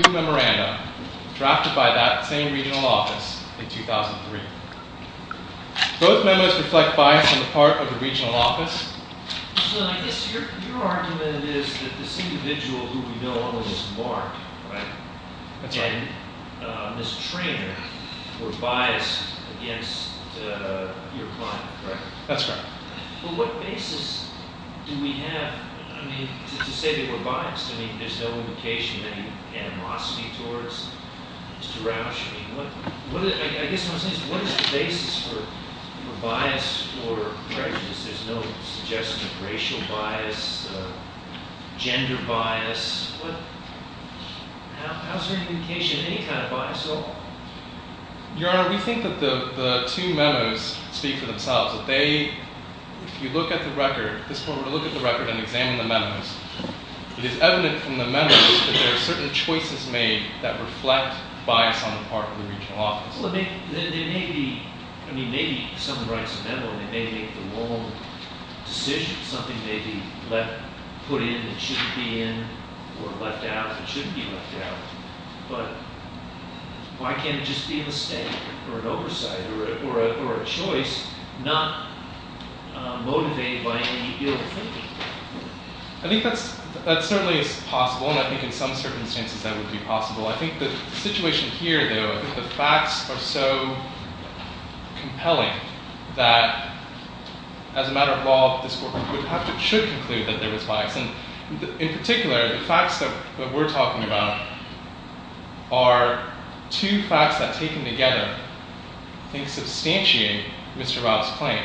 Memoranda, drafted by that same regional office in 2003. Both memos reflect bias on the part of the regional office. So I guess your argument is that this individual who we know almost as Mark, right? That's right. And Ms. Treanor were biased against your client, correct? That's correct. But what basis do we have to say that we're biased? I mean, there's no indication of any animosity towards Mr. Rauch. I guess what I'm saying is what is the basis for bias or prejudice? There's no suggestion of racial bias, gender bias. How is there any indication of any kind of bias at all? Your Honor, we think that the two memos speak for themselves. If you look at the record, this court will look at the record and examine the memos. It is evident from the memos that there are certain choices made that reflect bias on the part of the regional office. Well, maybe someone writes a memo and they make the wrong decision. Something may be put in that shouldn't be in or left out that shouldn't be left out. But why can't it just be a mistake or an oversight or a choice not motivated by any field of thinking? I think that certainly is possible, and I think in some circumstances that would be possible. I think the situation here, though, I think the facts are so compelling that, as a matter of law, this court should conclude that there is bias. In particular, the facts that we're talking about are two facts that, taken together, I think substantiate Mr. Rao's claim.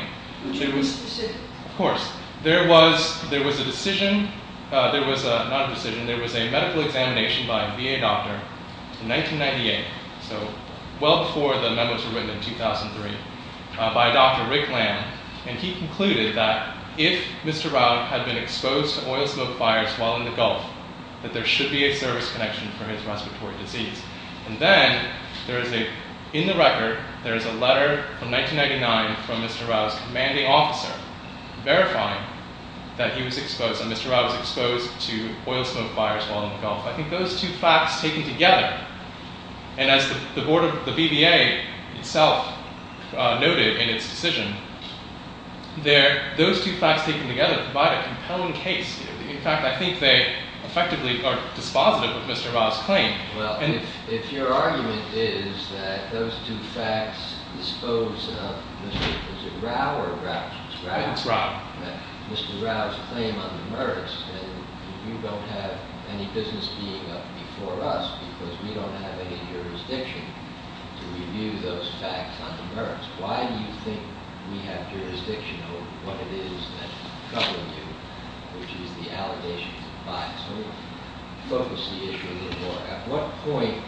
There was a medical examination by a VA doctor in 1998, so well before the memos were written in 2003, by Dr. Rick Lamb. And he concluded that if Mr. Rao had been exposed to oil smoke fires while in the Gulf, that there should be a service connection for his respiratory disease. And then, in the record, there is a letter from 1999 from Mr. Rao's commanding officer verifying that he was exposed and Mr. Rao was exposed to oil smoke fires while in the Gulf. I think those two facts taken together, and as the BVA itself noted in its decision, those two facts taken together provide a compelling case. In fact, I think they effectively are dispositive of Mr. Rao's claim. Well, if your argument is that those two facts dispose of Mr. Rao's claim on the merits, then you don't have any business being up before us because we don't have any jurisdiction to review those facts on the merits. Why do you think we have jurisdiction over what it is that's troubling you, which is the allegations of bias? Let me focus the issue a little more. At what point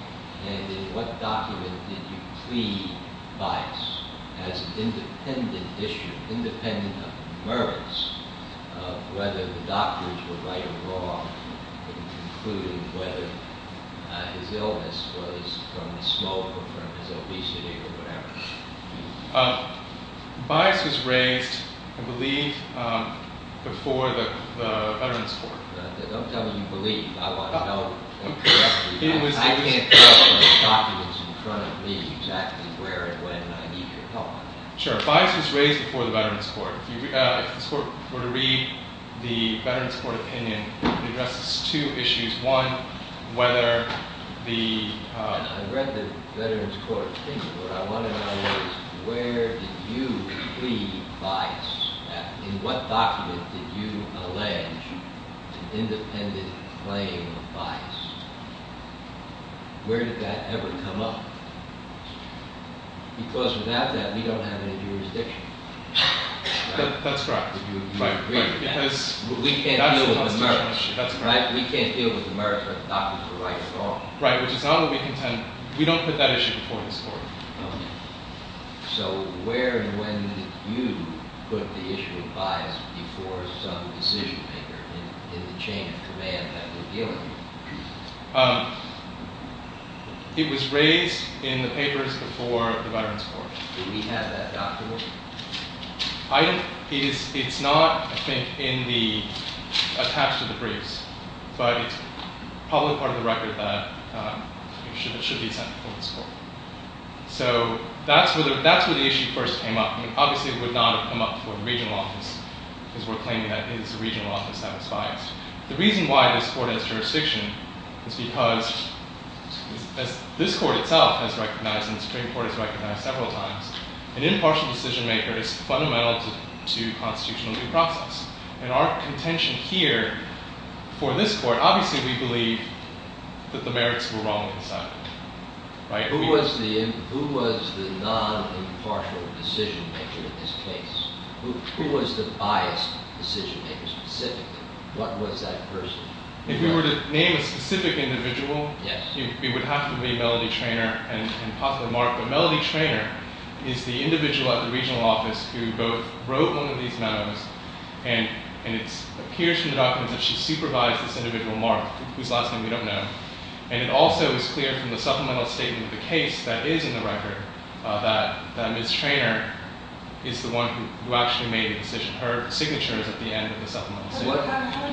and in what document did you plead bias as an independent issue, independent of the merits of whether the doctors were right or wrong in concluding whether his illness was from the smoke or from his obesity or whatever? Bias was raised, I believe, before the Veterans Court. Don't tell me you believe. I want to know correctly. I can't tell from the documents in front of me exactly where and when I need your help on that. Sure. Bias was raised before the Veterans Court. If this Court were to read the Veterans Court opinion, it addresses two issues. One, whether the- I read the Veterans Court opinion. What I want to know is where did you plead bias? In what document did you allege an independent claim of bias? Where did that ever come up? Because without that, we don't have any jurisdiction. That's correct. We can't deal with the merits. We can't deal with the merits whether the doctors were right or wrong. Right, which is not what we contend. We don't put that issue before this Court. So where and when did you put the issue of bias before some decision maker in the chain of command that we're dealing with? It was raised in the papers before the Veterans Court. Do we have that document? It's not, I think, attached to the briefs, but it's probably part of the record that it should be sent before this Court. So that's where the issue first came up. Obviously, it would not have come up before the regional office, because we're claiming that it is the regional office that is biased. The reason why this Court has jurisdiction is because, as this Court itself has recognized and the Supreme Court has recognized several times, an impartial decision maker is fundamental to constitutional due process. In our contention here, for this Court, obviously we believe that the merits were wrong inside. Who was the non-impartial decision maker in this case? Who was the biased decision maker specifically? What was that person? If we were to name a specific individual, it would have to be Melody Traynor and possibly Mark. But Melody Traynor is the individual at the regional office who both wrote one of these memos, and it appears from the documents that she supervised this individual Mark, whose last name we don't know. And it also is clear from the supplemental statement of the case that is in the record that Ms. Traynor is the one who actually made the decision. Her signature is at the end of the supplemental statement. How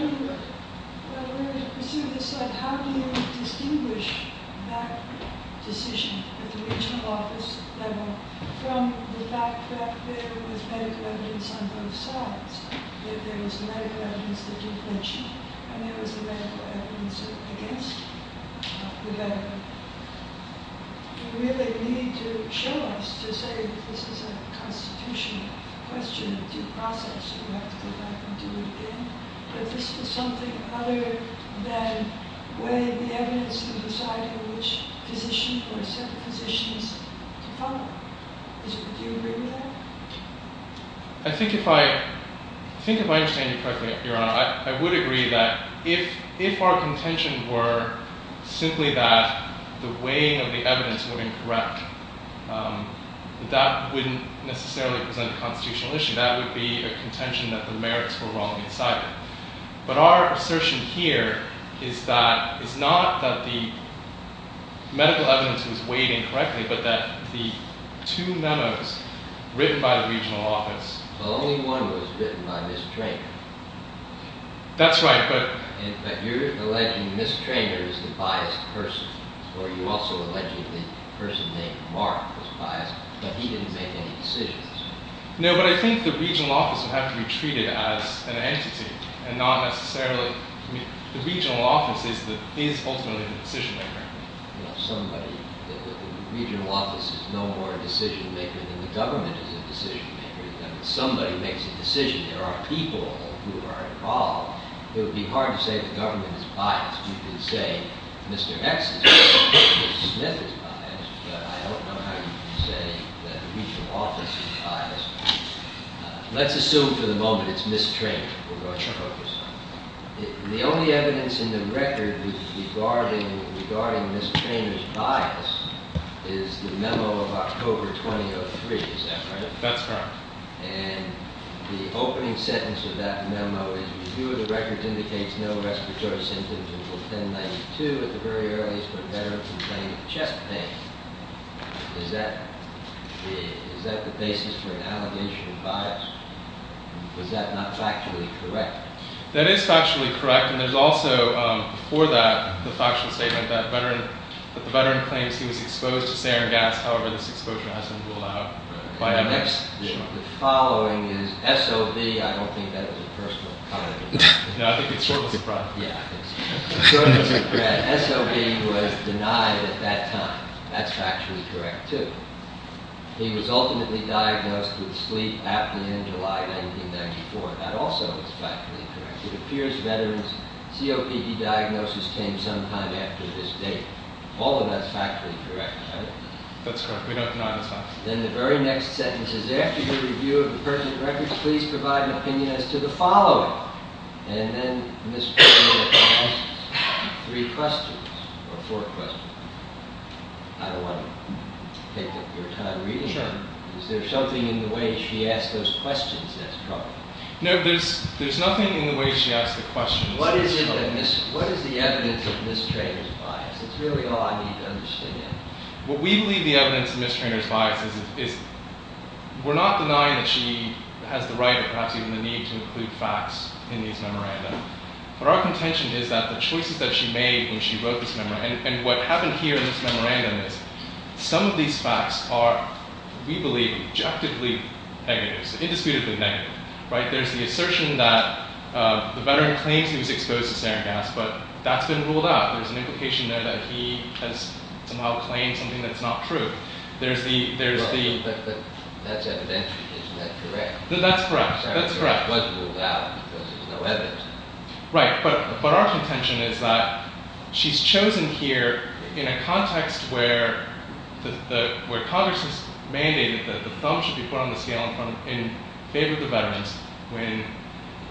do you distinguish that decision at the regional office level from the fact that there was medical evidence on both sides? That there was medical evidence that you mentioned, and there was medical evidence against the veteran. You really need to show us to say that this is a constitutional question of due process, so you have to go back and do it again. But this is something other than weighing the evidence to decide which physician or set of physicians to follow. Do you agree with that? I think if I understand you correctly, Your Honor, I would agree that if our contention were simply that the weighing of the evidence were incorrect, that wouldn't necessarily present a constitutional issue. That would be a contention that the merits were wrong inside it. But our assertion here is not that the medical evidence was weighed incorrectly, but that the two memos written by the regional office... Well, only one was written by Ms. Traynor. That's right, but... But you're alleging Ms. Traynor is the biased person, or you're also alleging the person named Mark was biased, but he didn't make any decisions. No, but I think the regional office would have to be treated as an entity, and not necessarily... I mean, the regional office is ultimately the decision-maker. Well, somebody... the regional office is no more a decision-maker than the government is a decision-maker. If somebody makes a decision, there are people who are involved. It would be hard to say the government is biased. You can say Mr. X is biased, Mr. Smith is biased, but I don't know how you can say that the regional office is biased. Let's assume for the moment it's Ms. Traynor. The only evidence in the record regarding Ms. Traynor's bias is the memo of October 2003, is that correct? That's correct. And the opening sentence of that memo is, review of the record indicates no respiratory symptoms until 1092 at the very earliest for a veteran complaining of chest pain. Is that the basis for an allegation of bias? Is that not factually correct? That is factually correct, and there's also, before that, the factual statement that the veteran claims he was exposed to sarin gas. However, this exposure has been ruled out by MS. The following is, SOB, I don't think that was a personal comment. No, I think it's short of surprise. Yeah, I think so. Short of surprise. SOB was denied at that time. That's factually correct, too. He was ultimately diagnosed with sleep at the end of July 1994. That also is factually correct. It appears veterans' COPD diagnosis came sometime after this date. All of that's factually correct, right? That's correct. We don't deny this fact. Then the very next sentence is, after your review of the pertinent records, please provide an opinion as to the following. And then Ms. Treanor asked three questions, or four questions. I don't want to take up your time reading them. Sure. Is there something in the way she asked those questions that's troubling? No, there's nothing in the way she asked the questions that's troubling. What is the evidence of Ms. Treanor's bias? That's really all I need to understand. What we believe the evidence of Ms. Treanor's bias is we're not denying that she has the right or perhaps even the need to include facts in these memorandums. But our contention is that the choices that she made when she wrote this memorandum and what happened here in this memorandum is some of these facts are, we believe, objectively negative, indisputably negative. There's the assertion that the veteran claims he was exposed to sarin gas, but that's been ruled out. There's an implication there that he has somehow claimed something that's not true. That's evidential. Isn't that correct? That's correct. It was ruled out because there's no evidence. Right. But our contention is that she's chosen here in a context where Congress has mandated that the thumb should be put on the scale in favor of the veterans when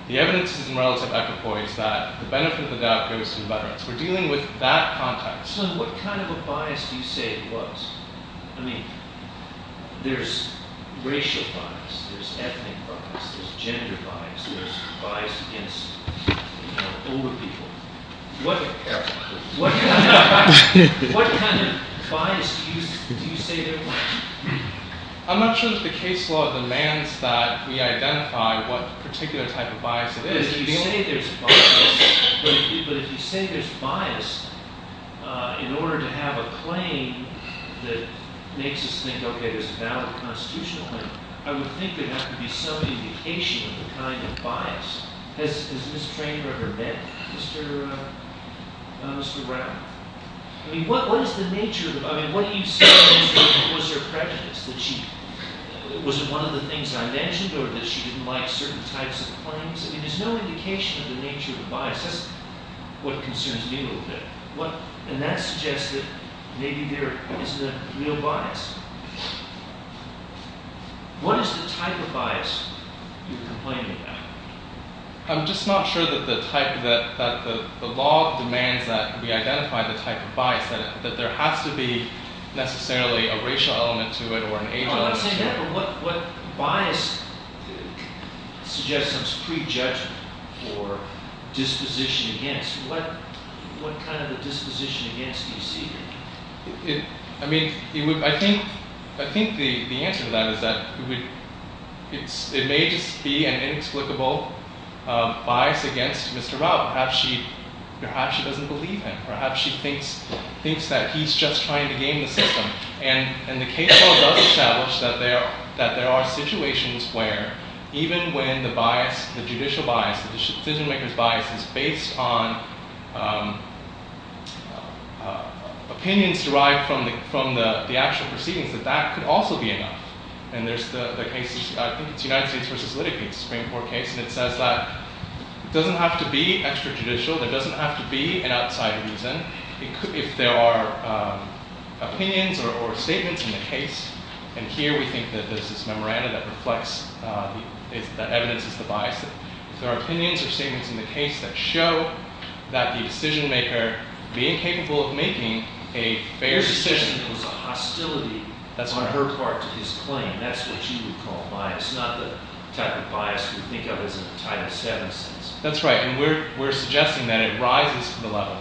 the evidence is in relative equipoise that the benefit of the doubt goes to the veterans. We're dealing with that context. So what kind of a bias do you say it was? I mean, there's racial bias, there's ethnic bias, there's gender bias, there's bias against older people. What kind of bias do you say there was? I'm not sure that the case law demands that we identify what particular type of bias it is. But if you say there's bias in order to have a claim that makes us think, okay, there's a valid constitutional claim, I would think there would have to be some indication of the kind of bias. Has Ms. Traynor ever met Mr. Brown? I mean, what is the nature of – I mean, what do you say was her prejudice? Was it one of the things I mentioned or that she didn't like certain types of claims? I mean, there's no indication of the nature of the bias. That's what concerns me a little bit. And that suggests that maybe there isn't a real bias. What is the type of bias you're complaining about? I'm just not sure that the law demands that we identify the type of bias, that there has to be necessarily a racial element to it or an age element to it. I'm not saying that, but what bias suggests some pre-judgment or disposition against? What kind of a disposition against do you see here? I mean, I think the answer to that is that it may just be an inexplicable bias against Mr. Rao. Perhaps she doesn't believe him. Perhaps she thinks that he's just trying to game the system. And the case law does establish that there are situations where even when the bias, the judicial bias, the decision-maker's bias is based on opinions derived from the actual proceedings, that that could also be enough. And there's the case – I think it's the United States v. Litigate Supreme Court case. And it says that it doesn't have to be extrajudicial. There doesn't have to be an outside reason. If there are opinions or statements in the case – and here we think that there's this memoranda that reflects, that evidences the bias – if there are opinions or statements in the case that show that the decision-maker being capable of making a fair decision – His decision was a hostility on her part to his claim. That's what you would call bias, not the type of bias we think of as in the Title VII sense. That's right. And we're suggesting that it rises to the level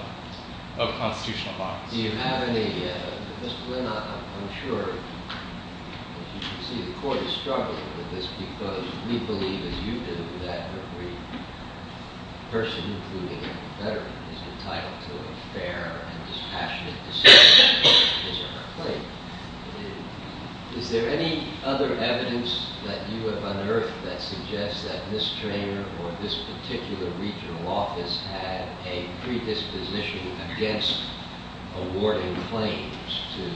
of constitutional bias. Do you have any – Mr. Lynn, I'm sure you can see the Court is struggling with this because we believe, as you do, that every person, including a veteran, is entitled to a fair and dispassionate decision as a complaint. Is there any other evidence that you have unearthed that suggests that this trainer or this particular regional office had a predisposition against awarding claims to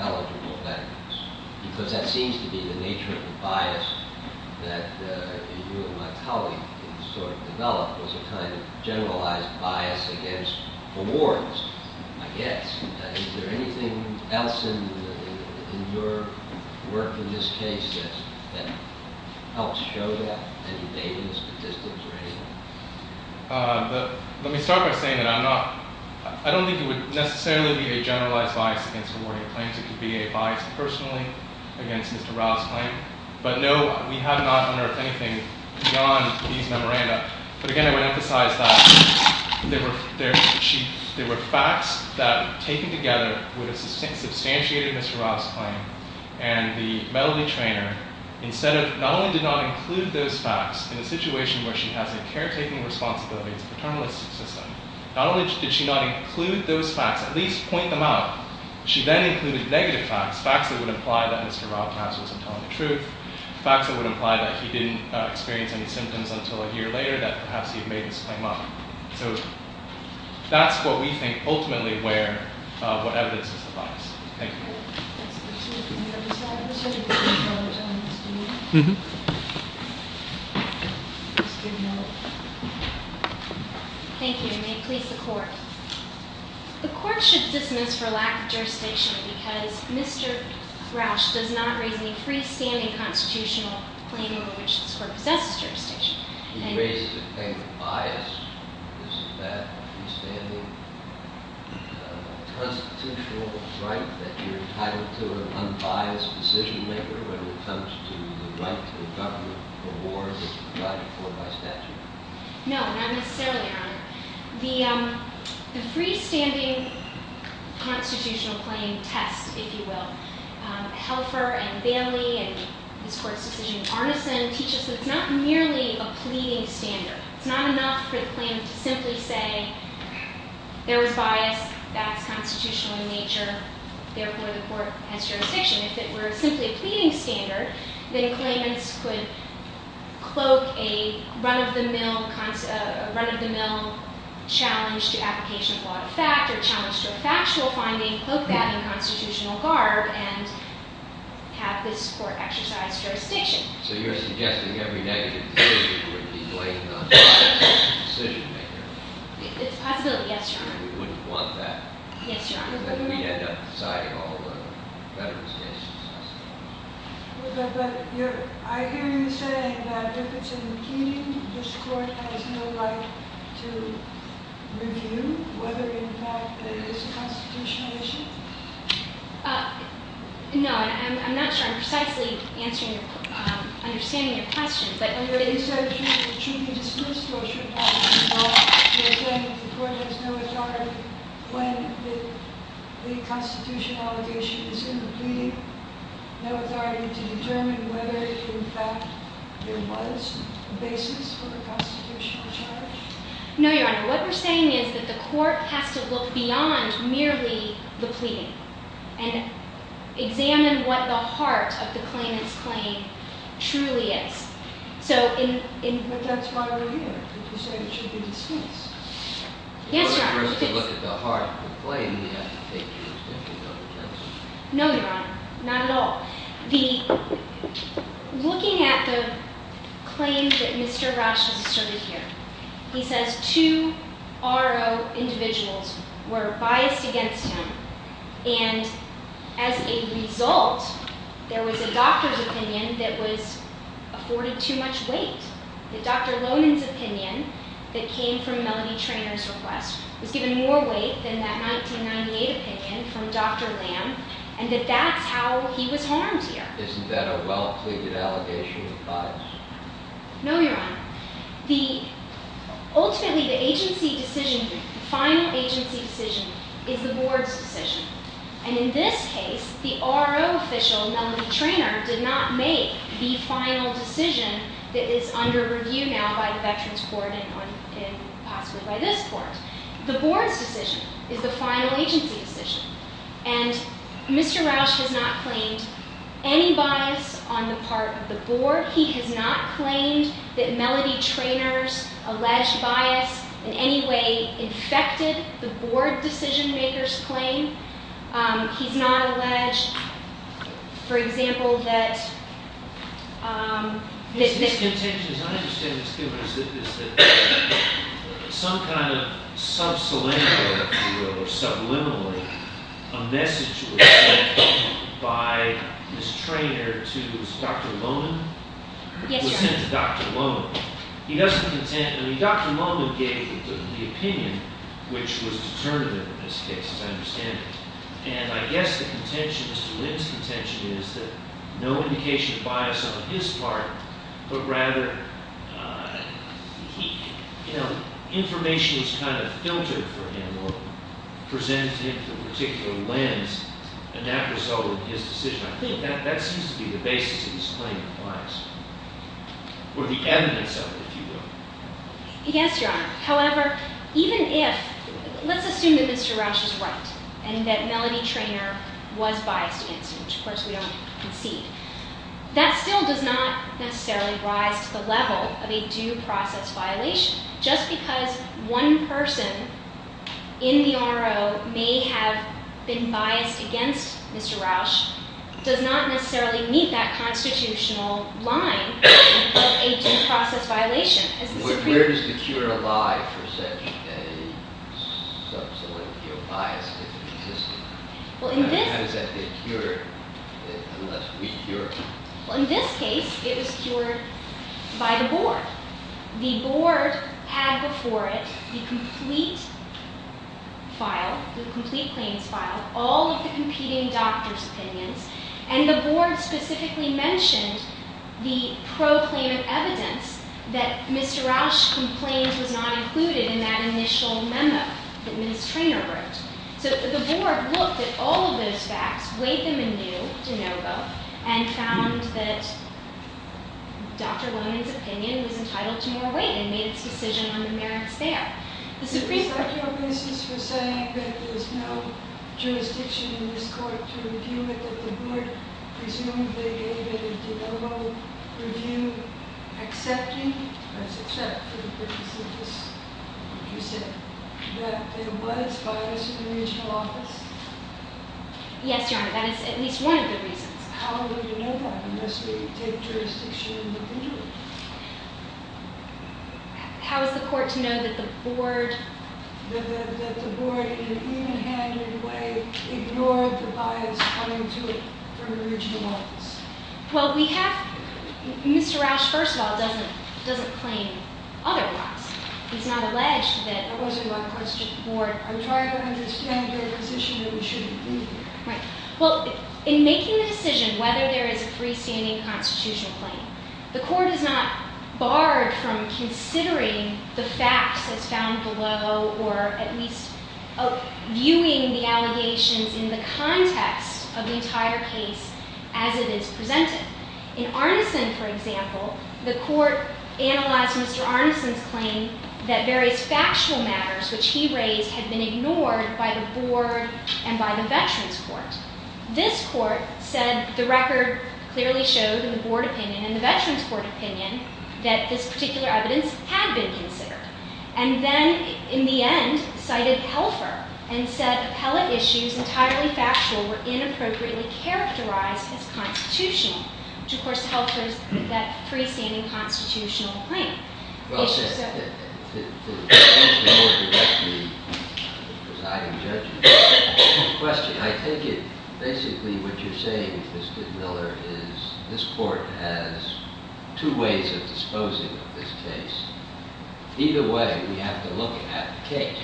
eligible veterans? Because that seems to be the nature of the bias that you and my colleague sort of developed was a kind of generalized bias against awards, I guess. Is there anything else in your work in this case that helps show that? Any data, statistics, or anything? Let me start by saying that I'm not – I don't think it would necessarily be a generalized bias against awarding claims. It could be a bias personally against Mr. Rao's claim. But no, we have not unearthed anything beyond these memoranda. But again, I would emphasize that there were facts that, taken together, would have substantiated Mr. Rao's claim. And the meddling trainer, instead of – not only did not include those facts in a situation where she has a caretaking responsibility, it's a paternalistic system. Not only did she not include those facts, at least point them out, she then included negative facts, facts that would imply that Mr. Rao perhaps wasn't telling the truth, facts that would imply that he didn't experience any symptoms until a year later, that perhaps he had made this claim up. So that's what we think ultimately where – what evidence is the bias. Thank you. Thank you, and may it please the Court. The Court should dismiss for lack of jurisdiction because Mr. Rao does not raise any freestanding constitutional claim in which this Court possesses jurisdiction. He raises a claim of bias. Is that a freestanding constitutional right that you're entitled to an unbiased decision-maker when it comes to the right to a government award that is provided for by statute? No, not necessarily, Your Honor. The freestanding constitutional claim tests, if you will, Helfer and Vanley and this Court's decision in Arneson teaches that it's not merely a pleading standard. It's not enough for the claimant to simply say, there was bias, that's constitutional in nature, therefore the Court has jurisdiction. If it were simply a pleading standard, then claimants could cloak a run-of-the-mill challenge to application of law to fact or challenge to a factual finding, cloak that in constitutional garb, and have this Court exercise jurisdiction. So you're suggesting every negative decision would be blamed on bias as a decision-maker? It's a possibility, yes, Your Honor. We wouldn't want that. Yes, Your Honor. We'd end up deciding all the veterans' cases, I see. I hear you saying that if it's a pleading, this Court has no right to review whether, in fact, it is a constitutional issue? No, I'm not sure I'm precisely understanding your question. But is that true for truth and disclosure? You're saying that the Court has no authority when the constitutional issue is in the pleading, no authority to determine whether, in fact, there was a basis for the constitutional charge? No, Your Honor. What we're saying is that the Court has to look beyond merely the pleading and examine what the heart of the claimant's claim truly is. But that's why we're here. You said it should be dismissed. Yes, Your Honor. In order for us to look at the heart of the claim, we have to take into account the evidence. No, Your Honor. Not at all. Looking at the claim that Mr. Rauch has asserted here, he says two R.O. individuals were biased against him, and as a result, there was a doctor's opinion that was afforded too much weight, that Dr. Lohnan's opinion that came from Melody Trainor's request was given more weight than that 1998 opinion from Dr. Lamb, and that that's how he was harmed here. Isn't that a well-pleaded allegation of bias? No, Your Honor. Ultimately, the agency decision, the final agency decision, is the Board's decision. And in this case, the R.O. official, Melody Trainor, did not make the final decision that is under review now by the Veterans Court and possibly by this Court. The Board's decision is the final agency decision. And Mr. Rauch has not claimed any bias on the part of the Board. He has not claimed that Melody Trainor's alleged bias in any way infected the Board decision-maker's claim. He's not alleged, for example, that this- The contention, as I understand it, is that some kind of sub-syllable, if you will, or subliminally, a message was sent by Ms. Trainor to Dr. Lohnan? Yes, Your Honor. It was sent to Dr. Lohnan. He doesn't contend-I mean, Dr. Lohnan gave the opinion, which was determinative in this case, as I understand it. And I guess the contention, Mr. Lynn's contention, is that no indication of bias on his part, but rather information was kind of filtered for him or presented to him through a particular lens, and that resulted in his decision. I think that seems to be the basis of his claim of bias, or the evidence of it, if you will. Yes, Your Honor. However, even if-let's assume that Mr. Rauch is right and that Melody Trainor was biased against him, which of course we all concede, that still does not necessarily rise to the level of a due process violation. Just because one person in the RO may have been biased against Mr. Rauch does not necessarily meet that constitutional line of a due process violation. Where does the cure lie for such a subsequent view of bias if it existed? How does that get cured unless we cure it? Well, in this case, it was cured by the board. The board had before it the complete file, the complete claims file, all of the competing doctors' opinions, and the board specifically mentioned the proclaimant evidence that Mr. Rauch's complaint was not included in that initial memo that Ms. Trainor wrote. So the board looked at all of those facts, weighed them anew, DeNovo, and found that Dr. Lowen's opinion was entitled to more weight and made its decision on the merits there. The Supreme Court- Is that your basis for saying that there's no jurisdiction in this court to review it, that the board presumably gave a DeNovo review accepting, that's accept for the purpose of this review, that there was bias in the regional office? Yes, Your Honor, that is at least one of the reasons. How would you know that unless we take jurisdiction individually? How is the court to know that the board- ignored the bias coming to it from the regional office? Well, we have- Mr. Rauch, first of all, doesn't claim otherwise. He's not alleged that- That wasn't my question. The board- I'm trying to understand their position that we shouldn't do that. Right. Well, in making the decision whether there is a freestanding constitutional claim, the court is not barred from considering the facts that's found below or at least viewing the allegations in the context of the entire case as it is presented. In Arneson, for example, the court analyzed Mr. Arneson's claim that various factual matters which he raised had been ignored by the board and by the veterans court. This court said the record clearly showed in the board opinion and the veterans court opinion that this particular evidence had been considered. And then, in the end, cited Helfer and said appellate issues entirely factual were inappropriately characterized as constitutional, which, of course, helped with that freestanding constitutional claim. Well, to answer the more directly presiding judge's question, I think basically what you're saying, Mr. Miller, is this court has two ways of disposing of this case. Either way, we have to look at the case.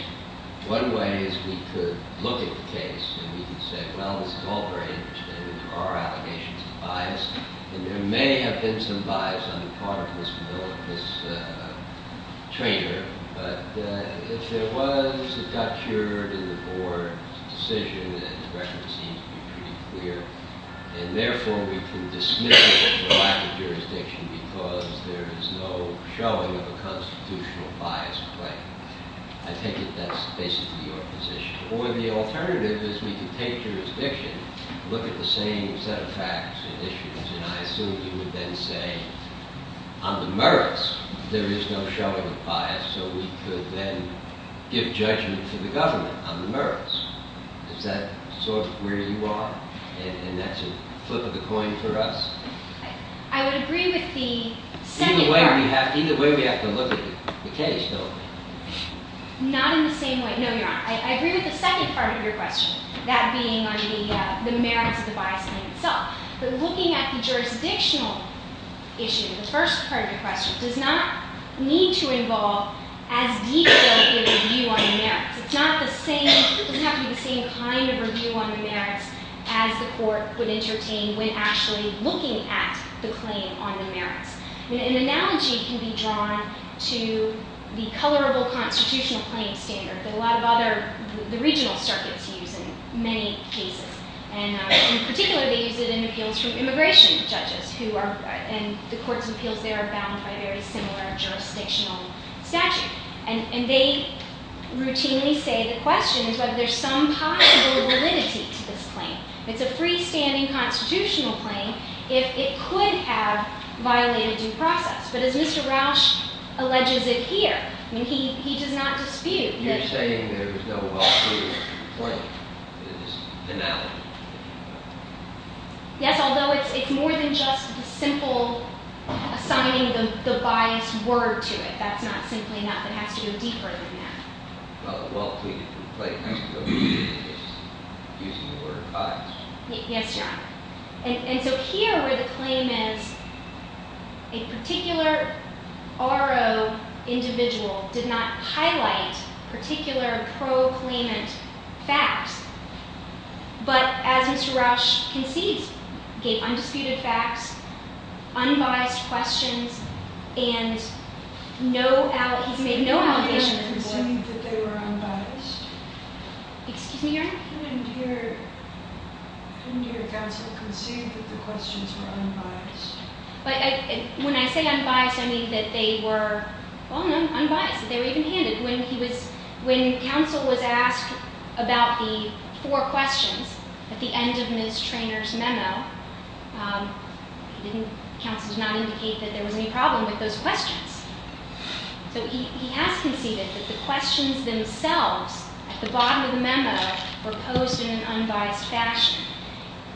One way is we could look at the case and we could say, well, this is all very interesting and there are allegations of bias and there may have been some bias on the part of Mr. Miller, this traitor. But if there was a touch here in the board's decision, then the record seems to be pretty clear. And therefore, we can dismiss this as a lack of jurisdiction because there is no showing of a constitutional bias claim. I take it that's basically your position. Or the alternative is we can take jurisdiction, look at the same set of facts and issues, and I assume you would then say on the merits there is no showing of bias, so we could then give judgment to the government on the merits. Does that sort of where you are? And that's a flip of the coin for us. I would agree with the second part. Either way, we have to look at the case, though. Not in the same way. No, you're on. I agree with the second part of your question, that being on the merits of the bias claim itself. But looking at the jurisdictional issue, the first part of your question, does not need to involve as detailed a review on the merits. It's not the same. It doesn't have to be the same kind of review on the merits as the court would entertain when actually looking at the claim on the merits. An analogy can be drawn to the colorable constitutional claim standard that a lot of the regional circuits use in many cases. In particular, they use it in appeals from immigration judges, and the court's appeals there are bound by a very similar jurisdictional statute. And they routinely say the question is whether there's some possible validity to this claim. It's a freestanding constitutional claim if it could have violated due process. But as Mr. Rausch alleges it here, he does not dispute that... You're saying there's no alternative claim. It's an analogy. Yes, although it's more than just the simple assigning the biased word to it. That's not simply enough. It has to go deeper than that. Well, the well-tweaked complaint is using the word biased. Yes, Your Honor. And so here where the claim is a particular RO individual did not highlight particular pro-claimant facts, but as Mr. Rausch concedes, gave undisputed facts, unbiased questions, and he's made no allegations. He didn't hear him concede that they were unbiased? Excuse me, Your Honor? He didn't hear counsel concede that the questions were unbiased? When I say unbiased, I mean that they were unbiased. They were even-handed. When counsel was asked about the four questions at the end of Ms. Treanor's memo, counsel did not indicate that there was any problem with those questions. So he has conceded that the questions themselves at the bottom of the memo were posed in an unbiased fashion.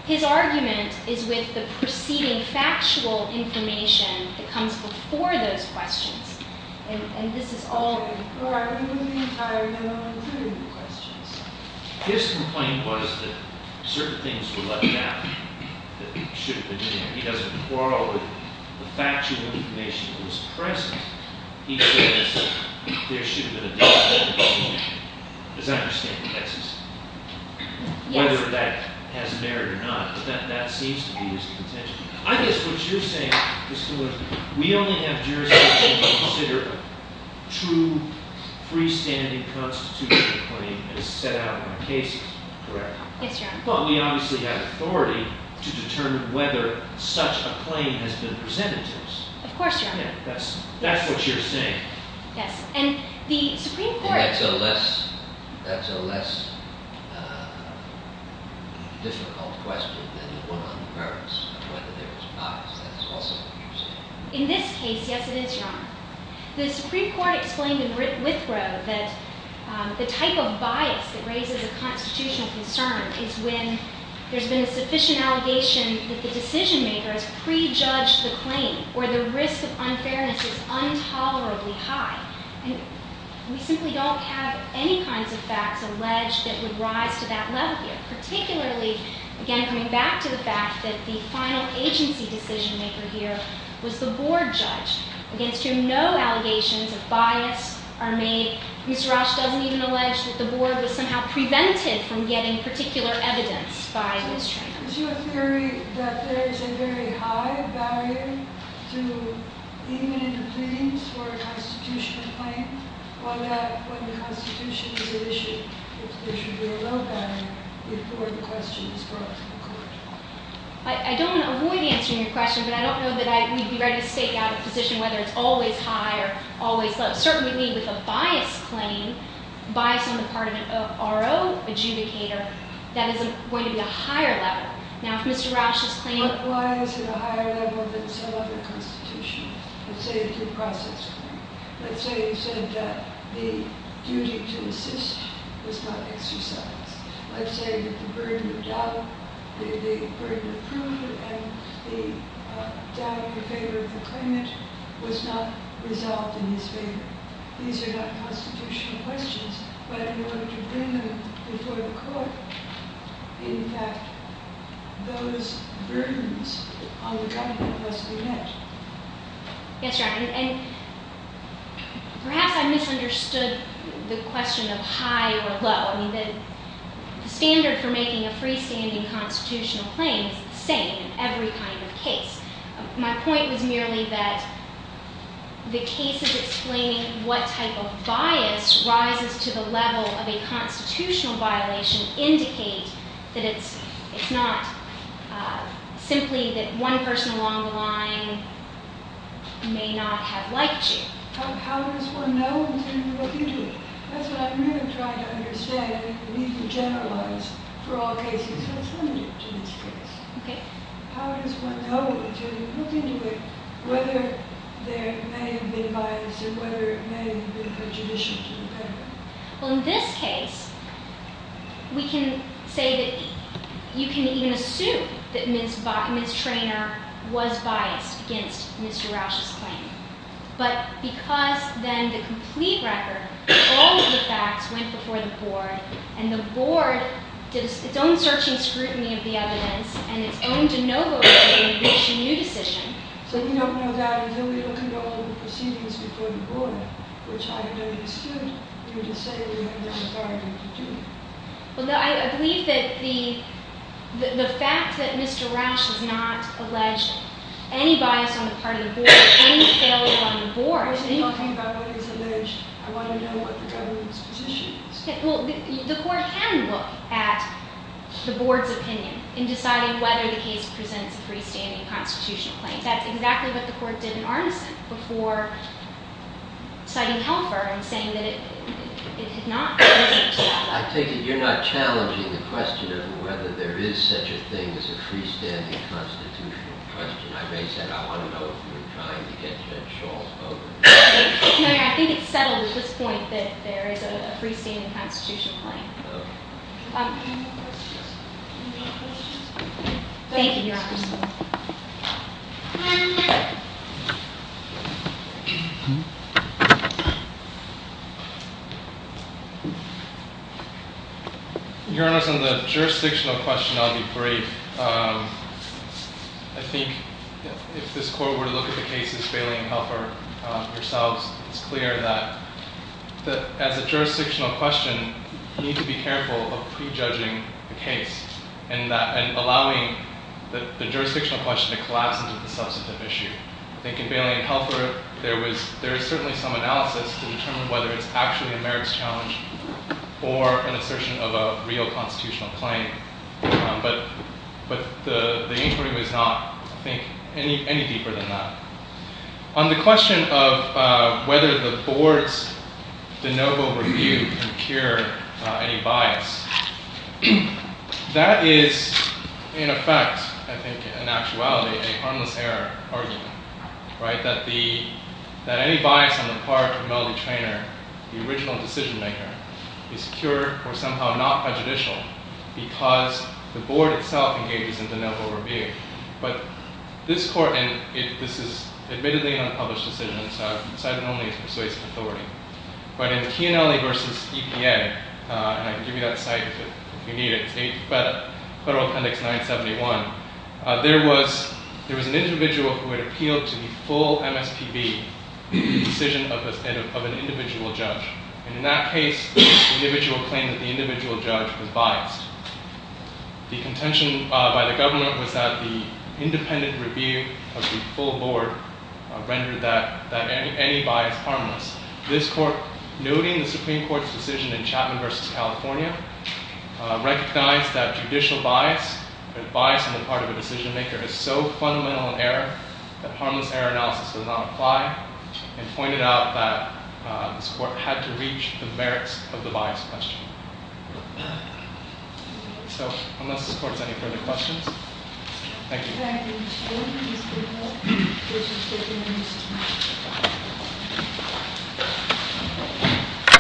His argument is with the preceding factual information that comes before those questions, and this is all before even the entire memo included the questions. His complaint was that certain things were left out that should have been there. He doesn't quarrel with the factual information that was present. He says there should have been additional information, as I understand the case is, whether that has merit or not, but that seems to be his contention. I guess what you're saying, Mr. Lewis, is that we only have jurisdiction to consider true freestanding constitutional claim that is set out in the case, correct? Yes, Your Honor. But we obviously have authority to determine whether such a claim has been presented to us. Of course, Your Honor. That's what you're saying. Yes, and the Supreme Court- That's a less difficult question than the one on the grounds of whether there was bias. In this case, yes it is, Your Honor. The Supreme Court explained in Withrow that the type of bias that raises a constitutional concern is when there's been a sufficient allegation that the decision-maker has prejudged the claim or the risk of unfairness is intolerably high. And we simply don't have any kinds of facts alleged that would rise to that level here, particularly, again, coming back to the fact that the final agency decision-maker here was the board judge, against whom no allegations of bias are made. Mr. Roche doesn't even allege that the board was somehow prevented from getting particular evidence by Ms. Tran. So is your theory that there is a very high barrier to even in the pleadings for a constitutional claim on that when the Constitution is an issue, there should be a low barrier before the question is brought to the court? I don't want to avoid answering your question, but I don't know that we'd be ready to stake out a position whether it's always high or always low. Certainly, with a bias claim, bias on the part of an RO adjudicator, that is going to be a higher level. Now, if Mr. Roche's claim- Why is it a higher level than some other constitution? Let's say it's a process claim. Let's say he said that the duty to insist was not exercised. Let's say that the burden of doubt, the burden of prudence, and the doubt in favor of the claimant was not resolved in his favor. These are not constitutional questions, but in order to bring them before the court, in fact, those burdens on the document must be met. Yes, Your Honor, and perhaps I misunderstood the question of high or low. I mean, the standard for making a freestanding constitutional claim is the same in every kind of case. My point was merely that the case is explaining what type of bias rises to the level of a constitutional violation and indicate that it's not simply that one person along the line may not have liked you. How does one know in terms of looking into it? That's what I'm really trying to understand and need to generalize for all cases, because it's limited to this case. Okay. How does one know in terms of looking into it whether there may have been bias and whether it may have been prejudicial to the defendant? Well, in this case, we can say that you can even assume that Ms. Bock, Ms. Traynor, was biased against Mr. Rauch's claim, but because then the complete record, all of the facts went before the board, and the board did its own searching scrutiny of the evidence and its own de novo review to reach a new decision. So you don't know that until we look into all the proceedings before the board, which I don't exclude you to say we have the authority to do that. Well, I believe that the fact that Mr. Rauch has not alleged any bias on the part of the board, any failure on the board. I wasn't talking about what is alleged. I want to know what the government's position is. Well, the court can look at the board's opinion in deciding whether the case presents a freestanding constitutional claim. I think that's exactly what the court did in Arneson before citing Helfer and saying that it did not present that. I take it you're not challenging the question of whether there is such a thing as a freestanding constitutional question. I raise that. I want to know if you're trying to get Judge Schall over. No, I think it's settled at this point that there is a freestanding constitutional claim. Okay. Any more questions? Any more questions? Thank you, Your Honor. Your Honor, on the jurisdictional question, I'll be brief. I think if this court were to look at the cases failing Helfer, it's clear that as a jurisdictional question, you need to be careful of prejudging the case and allowing the jurisdictional question to collapse into the substantive issue. I think in bailing out Helfer, there is certainly some analysis to determine whether it's actually a merits challenge or an assertion of a real constitutional claim. But the inquiry was not, I think, any deeper than that. On the question of whether the board's de novo review can cure any bias, that is, in effect, I think, in actuality, a harmless error argument, that any bias on the part of Melody Traynor, the original decision-maker, is cured or somehow not prejudicial because the board itself engages in de novo review. But this court, and this is admittedly an unpublished decision, so I've decided it only persuades authority. But in TNLA v. EPA, and I can give you that site if you need it, it's Federal Appendix 971, there was an individual who had appealed to the full MSPB for the decision of an individual judge. And in that case, the individual claimed that the individual judge was biased. The contention by the government was that the independent review of the full board rendered that any bias harmless. This court, noting the Supreme Court's decision in Chapman v. California, recognized that judicial bias, or bias on the part of a decision-maker, is so fundamental an error that harmless error analysis does not apply and pointed out that this court had to reach the merits of the bias question. So, unless this court has any further questions, thank you. Thank you.